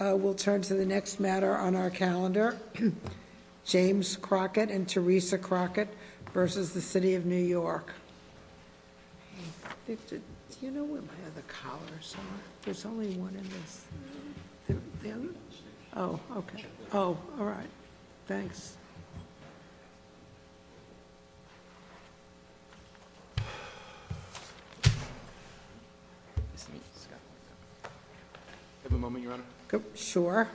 We'll turn to the next matter on our calendar. James Crockett and Teresa Crockett versus the City of New York. Do you know where my other collars are? There's only one in this. The other? Okay. All right. Thanks. Do you have a moment, Your Honor? Sure.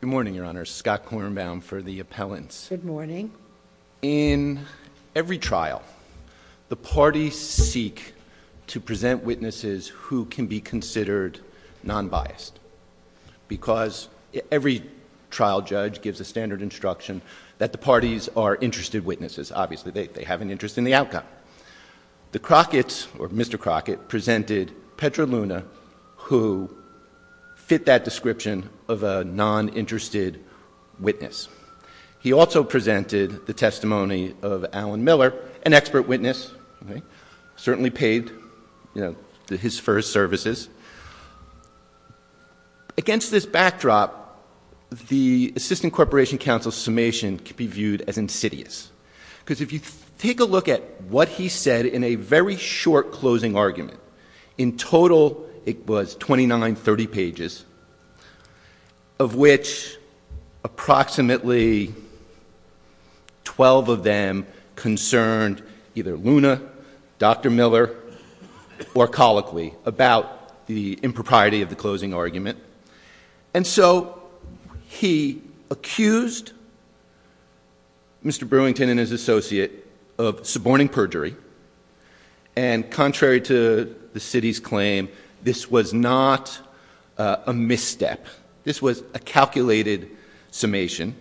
Good morning, Your Honor. Scott Kornbaum for the appellants. Good morning. In every trial, the parties seek to present witnesses who can be considered non-biased because every trial judge gives a standard instruction that the parties are interested witnesses. Obviously, they have an interest in the outcome. The Crocketts or Mr. Crockett presented Petra Luna who fit that description of a non-interested witness. He also presented the testimony of Alan Miller, an expert witness, certainly paid his first services. Against this backdrop, the Assistant Corporation Counsel's summation can be viewed as insidious because if you take a look at what he said in a very short closing argument, in total, it was 2930 pages of which approximately 12 of them concerned either Luna, Dr. Miller, or colloquy about the impropriety of the closing argument. And so he accused Mr. Brewington and his associate of suborning perjury and contrary to the city's claim, this was not a misstep. This was a calculated summation.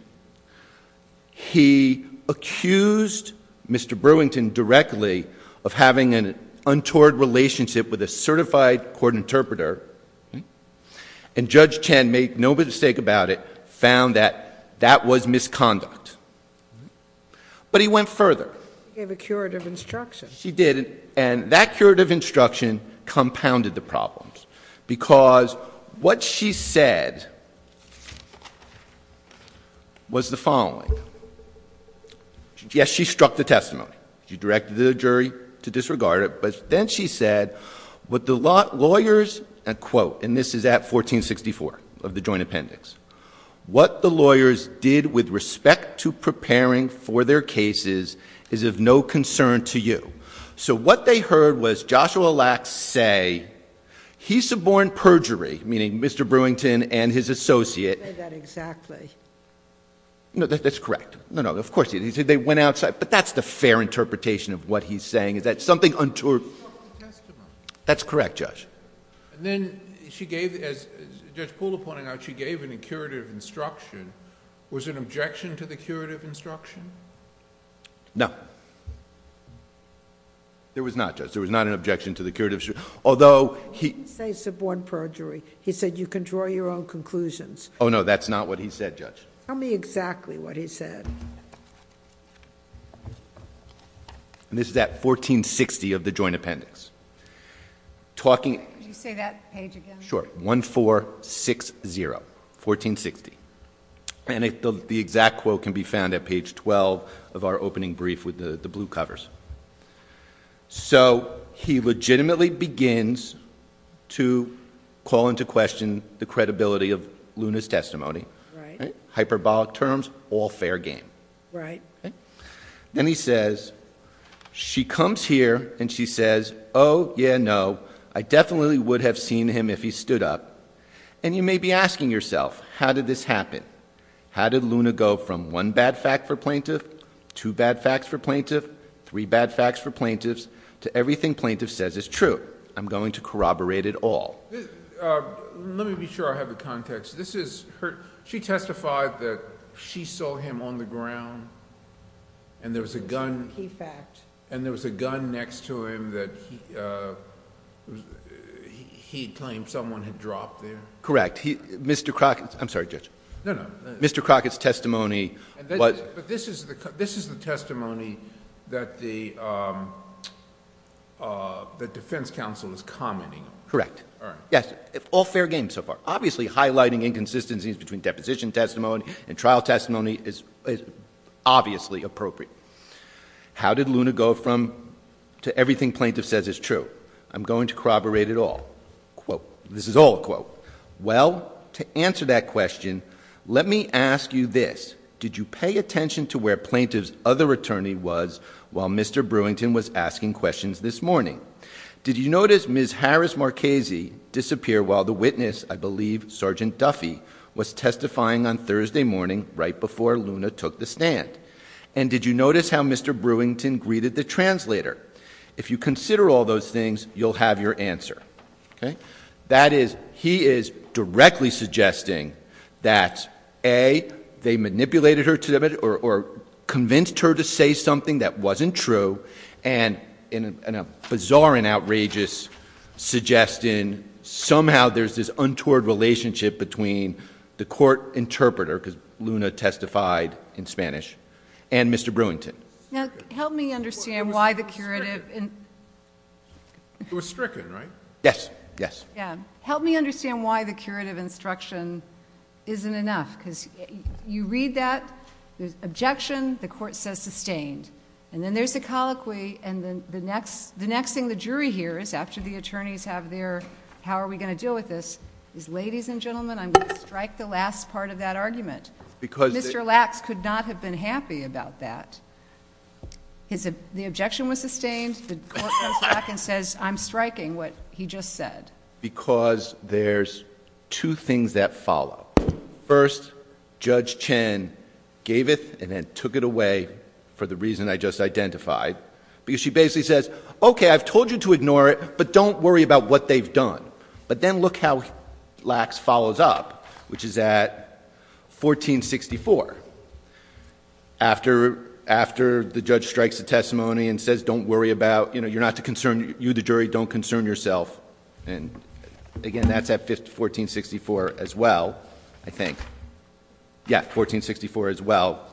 He accused Mr. Brewington directly of having an untoward relationship with a certified court interpreter and Judge Chen, make no mistake about it, found that that was misconduct. But he went further. He gave a curative instruction. She did. And that curative instruction compounded the problems because what she said was the following. Yes, she struck the testimony. She directed the jury to disregard it. But then she said, what the lawyers, and quote, and this is at 1464 of the joint appendix, what the lawyers did with respect to preparing for their cases is of no concern to you. So what they heard was Joshua Lacks say, he suborned perjury, meaning Mr. Brewington and his associate. You didn't say that exactly. No, that's correct. No, no, of course he did. They went outside. But that's the fair interpretation of what he's saying is that something untoward. He struck the testimony. That's correct, Judge. And then she gave, as Judge Poole pointed out, she gave a curative instruction. Was it an objection to the curative instruction? No. There was not, Judge. There was not an objection to the curative instruction. Although he... You didn't say suborn perjury. He said you can draw your own conclusions. Oh, no. That's not what he said, Judge. Tell me exactly what he said. And this is at 1460 of the joint appendix. Talking... Could you say that page again? Sure. 1460. 1460. And the exact quote can be found at page 12 of our opening brief with the blue covers. So he legitimately begins to call into question the credibility of Luna's testimony. Hyperbolic terms, all fair game. Right. Then he says, she comes here and she says, oh, yeah, no. I definitely would have seen him if he stood up. And you may be asking yourself, how did this happen? How did Luna go from one bad fact for plaintiff, two bad facts for plaintiff, three bad facts for plaintiffs, to everything plaintiff says is true? I'm going to corroborate it all. Let me be sure I have the context. This is her... She testified that she saw him on the ground and there was a gun... Key fact. And there was a gun next to him that he claimed someone had dropped there? Correct. Mr. Crockett's... I'm sorry, Judge. No, no. Mr. Crockett's testimony... But this is the testimony that the defense counsel is commenting on. Correct. All right. Yes. All fair game so far. Obviously, highlighting inconsistencies between deposition testimony and trial testimony is obviously appropriate. How did Luna go from... to everything plaintiff says is true? I'm going to corroborate it all. Quote. This is all a quote. Well, to answer that question, let me ask you this. Did you pay attention to where plaintiff's other attorney was while Mr. Brewington was asking questions this morning? Did you notice Ms. Harris Marchese disappear while the witness, I believe, Sergeant Duffy, was testifying on Thursday morning right before Luna took the stand? And did you notice how Mr. Brewington greeted the translator? If you consider all those things, you'll have your answer. That is, he is directly suggesting that, A, they manipulated her or convinced her to say something that wasn't true, and in a bizarre and outrageous suggestion, somehow there's this untoward relationship between the court interpreter, because Luna testified in Spanish, and Mr. Brewington. Now, help me understand why the curative... It was stricken, right? Yes. Yes. Yeah. Help me understand why the curative instruction isn't enough, because you read that, there's objection, the court says sustained, and then there's a colloquy, and then the next thing the jury hears after the attorneys have their, how are we going to deal with this, is, ladies and gentlemen, I'm going to strike the last part of that argument. Mr. Lacks could not have been happy about that. The objection was sustained, the court comes back and says, I'm striking what he just said. Because there's two things that follow. First, Judge Chen gave it and then took it away for the reason I just identified, because she basically says, okay, I've told you to ignore it, but don't worry about what they've done. But then look how Lacks follows up, which is at 1464, after the judge strikes the testimony and says, don't worry about, you're not to concern you, the jury, don't concern yourself, and again, that's at 1464 as well, I think. Yeah, 1464 as well.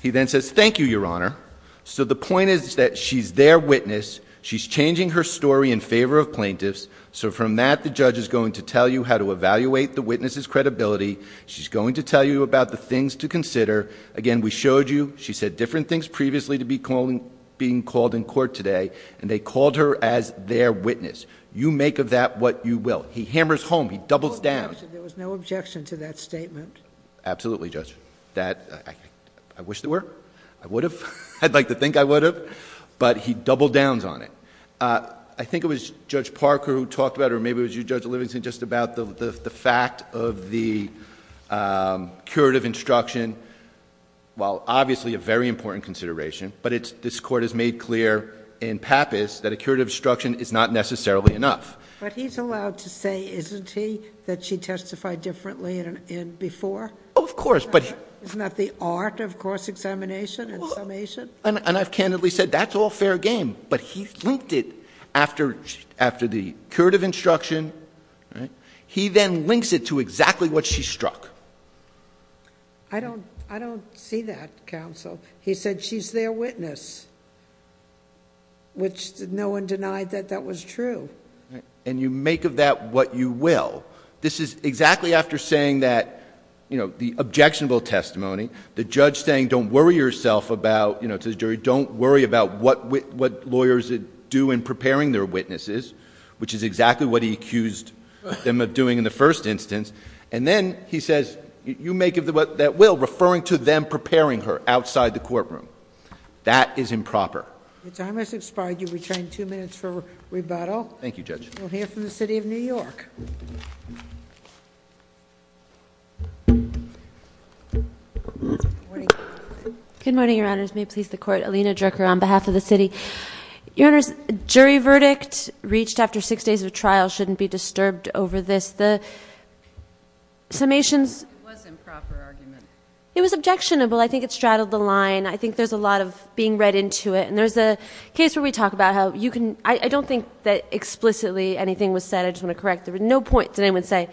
He then says, thank you, Your Honor. So the point is that she's their witness, she's changing her story in court. So from that, the judge is going to tell you how to evaluate the witness's credibility, she's going to tell you about the things to consider, again, we showed you, she said different things previously to being called in court today, and they called her as their witness. You make of that what you will. He hammers home, he doubles down... There was no objection to that statement. Absolutely, Judge. I wish there were, I would have, I'd like to think I would have, but he doubled downs on it. I think it was Judge Parker who talked about it, or maybe it was you, Judge Livingston, just about the fact of the curative instruction, while obviously a very important consideration, but this court has made clear in Pappas that a curative instruction is not necessarily enough. But he's allowed to say, isn't he, that she testified differently before? Oh, of course. Isn't that the art of course examination and summation? I've candidly said that's all fair game, but he linked it after the curative instruction, he then links it to exactly what she struck. I don't see that, counsel. He said she's their witness, which no one denied that that was true. You make of that what you will. This is exactly after saying that, the objectionable testimony, the judge saying, don't worry yourself about, to the jury, don't worry about what lawyers do in preparing their witnesses, which is exactly what he accused them of doing in the first instance. And then he says, you make of that what that will, referring to them preparing her outside the courtroom. That is improper. The time has expired. You've retained two minutes for rebuttal. We'll hear from the city of New York. Good morning, your honors. May it please the court. Alina Drucker on behalf of the city. Your honors, jury verdict reached after six days of trial shouldn't be disturbed over this. The summations- It was improper argument. It was objectionable. I think it straddled the line. I think there's a lot of being read into it. And there's a case where we talk about how you can, I don't think that explicitly anything was said. I just want to correct. There were no points that anyone would say.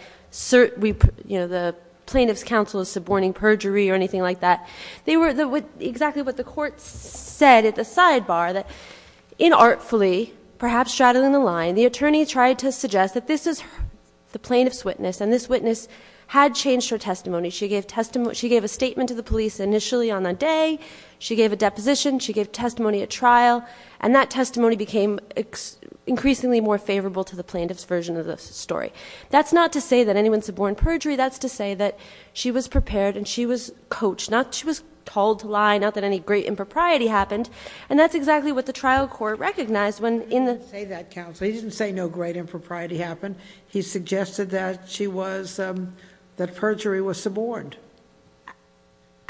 The plaintiff's counsel is suborning perjury or anything like that. They were exactly what the court said at the sidebar, that inartfully, perhaps straddling the line, the attorney tried to suggest that this is the plaintiff's witness, and this witness had changed her testimony. She gave a statement to the police initially on that day. She gave a deposition. She gave testimony at trial. And that testimony became increasingly more favorable to the plaintiff's version of the story. That's not to say that anyone suborned perjury. That's to say that she was prepared and she was coached. She was told to lie, not that any great impropriety happened. And that's exactly what the trial court recognized when in the- He didn't say that, counsel. He didn't say no great impropriety happened. He suggested that perjury was suborned.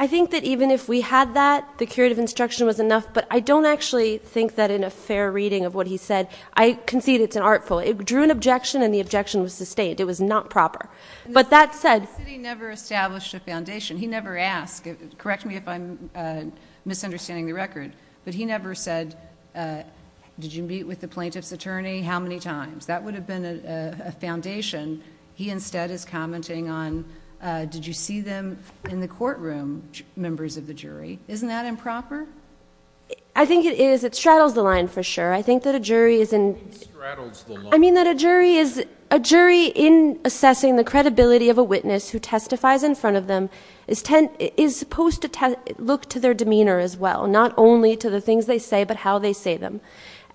I think that even if we had that, the curative instruction was enough. But I don't actually think that in a fair reading of what he said, I concede it's an artful. It drew an objection and the objection was sustained. It was not proper. But that said- The city never established a foundation. He never asked, correct me if I'm misunderstanding the record, but he never said, did you meet with the plaintiff's attorney? How many times? That would have been a foundation. He instead is commenting on, did you see them in the courtroom, members of the jury? Isn't that improper? I think it is. I think that a jury is in- What do you mean straddles the line? And the credibility of a witness who testifies in front of them is supposed to look to their demeanor as well. Not only to the things they say, but how they say them.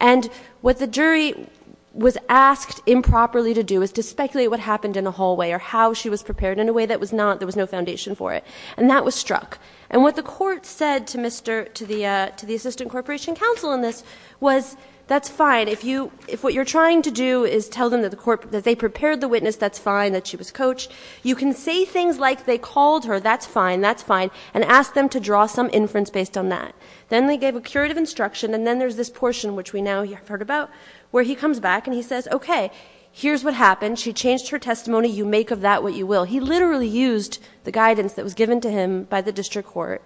And what the jury was asked improperly to do is to speculate what happened in the hallway or how she was prepared in a way that was not, there was no foundation for it. And that was struck. And what the court said to the assistant corporation counsel in this was, that's fine. If what you're trying to do is tell them that they prepared the witness, that's fine, that she was coached. You can say things like they called her, that's fine, that's fine, and ask them to draw some inference based on that. Then they gave a curative instruction, and then there's this portion, which we now have heard about, where he comes back and he says, okay, here's what happened. She changed her testimony, you make of that what you will. He literally used the guidance that was given to him by the district court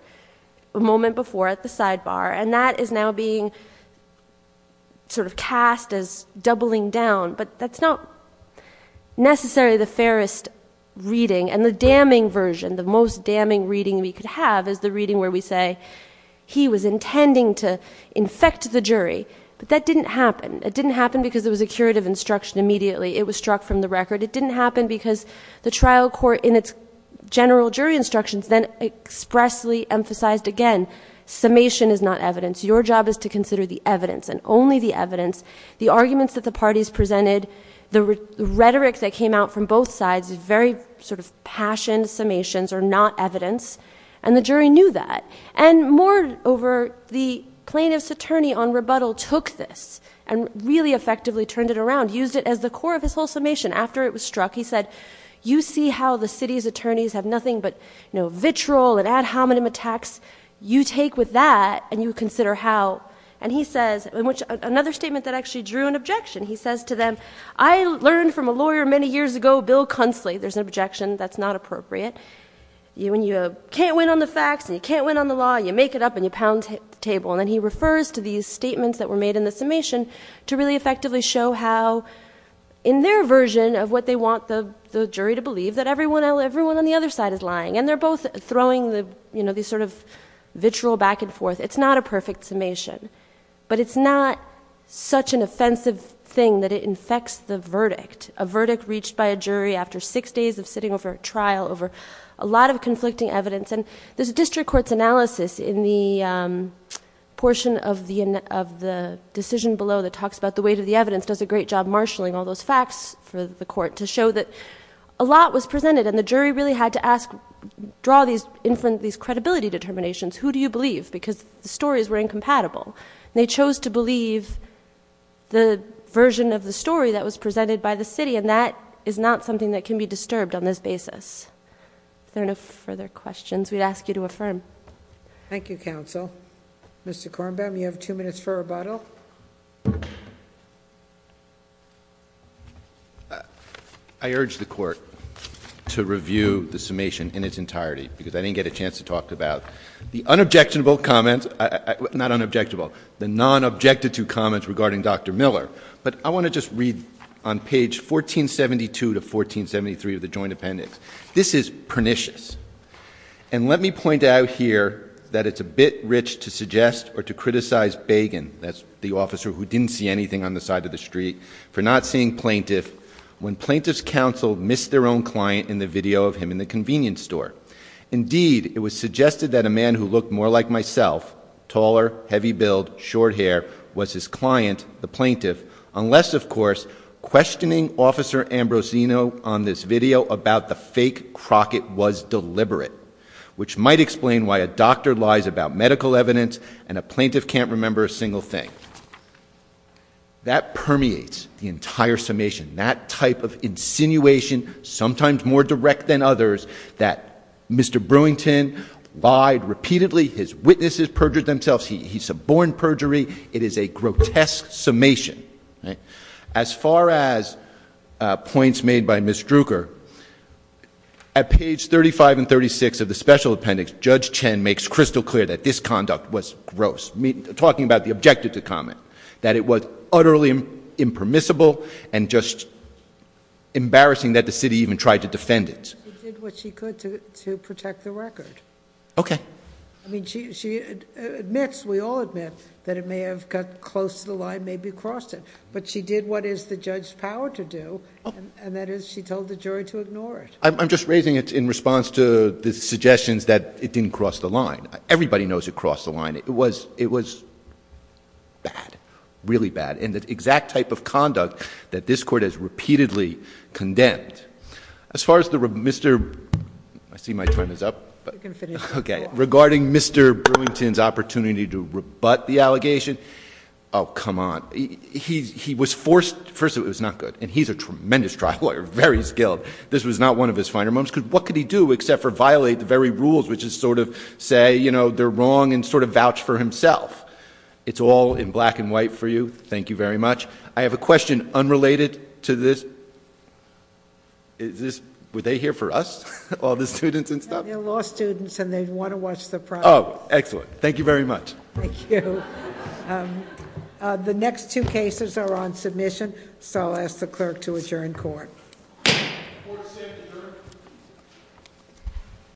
a moment before at the sidebar. And that is now being sort of cast as doubling down, but that's not necessarily the fairest reading. And the damning version, the most damning reading we could have is the reading where we say, he was intending to infect the jury. But that didn't happen. It didn't happen because it was a curative instruction immediately. It was struck from the record. It didn't happen because the trial court in its general jury instructions then expressly emphasized again, summation is not evidence, your job is to consider the evidence, and only the evidence. The arguments that the parties presented, the rhetoric that came out from both sides, very sort of passion summations are not evidence, and the jury knew that. And moreover, the plaintiff's attorney on rebuttal took this and really effectively turned it around, used it as the core of his whole summation. After it was struck, he said, you see how the city's attorneys have nothing but vitriol and ad hominem attacks. You take with that and you consider how, and he says, another statement that actually drew an objection. He says to them, I learned from a lawyer many years ago, Bill Cunsley, there's an objection that's not appropriate. When you can't win on the facts and you can't win on the law, you make it up and you pound the table. And then he refers to these statements that were made in the summation to really effectively show how, in their version of what they want the jury to believe, that everyone on the other side is lying. And they're both throwing these sort of vitriol back and forth. It's not a perfect summation. But it's not such an offensive thing that it infects the verdict. A verdict reached by a jury after six days of sitting over a trial over a lot of conflicting evidence. And there's a district court's analysis in the portion of the decision below that talks about the weight of the evidence. Does a great job marshalling all those facts for the court to show that a lot was presented and the jury really had to ask, draw these credibility determinations. Who do you believe? Because the stories were incompatible. They chose to believe the version of the story that was presented by the city and that is not something that can be disturbed on this basis. If there are no further questions, we'd ask you to affirm. Thank you, counsel. Mr. Kornbaum, you have two minutes for rebuttal. I urge the court to review the summation in its entirety, because I didn't get a chance to talk about the unobjectionable comments. Not unobjectable, the non-objected to comments regarding Dr. Miller. But I want to just read on page 1472 to 1473 of the joint appendix. This is pernicious, and let me point out here that it's a bit rich to suggest or to criticize Bagan, that's the officer who didn't see anything on the side of the street, for not seeing plaintiff. When plaintiff's counsel missed their own client in the video of him in the convenience store. Indeed, it was suggested that a man who looked more like myself, taller, heavy build, short hair, was his client, the plaintiff. Unless, of course, questioning Officer Ambrosino on this video about the fake Crockett was deliberate. Which might explain why a doctor lies about medical evidence and a plaintiff can't remember a single thing. That permeates the entire summation. That type of insinuation, sometimes more direct than others, that Mr. Brewington lied repeatedly, his witnesses perjured themselves, he suborned perjury. It is a grotesque summation, right? As far as points made by Ms. Druker, at page 35 and 36 of the special appendix, Judge Chen makes crystal clear that this conduct was gross. Talking about the objective to comment, that it was utterly impermissible and just embarrassing that the city even tried to defend it. She did what she could to protect the record. Okay. I mean, she admits, we all admit, that it may have got close to the line, maybe crossed it. But she did what is the judge's power to do, and that is she told the jury to ignore it. I'm just raising it in response to the suggestions that it didn't cross the line. Everybody knows it crossed the line. It was bad, really bad. And the exact type of conduct that this court has repeatedly condemned. As far as the, Mr., I see my time is up. You can finish. Okay. Regarding Mr. Brewington's opportunity to rebut the allegation. Oh, come on. He was forced, first of all, it was not good. And he's a tremendous trial lawyer, very skilled. This was not one of his finer moments, because what could he do except for violate the very rules, which is sort of say, they're wrong, and sort of vouch for himself. It's all in black and white for you. Thank you very much. I have a question unrelated to this. Is this, were they here for us? All the students and stuff? They're law students and they want to watch the program. Excellent. Thank you very much. Thank you. The next two cases are on submission, so I'll ask the clerk to adjourn court. Court is adjourned.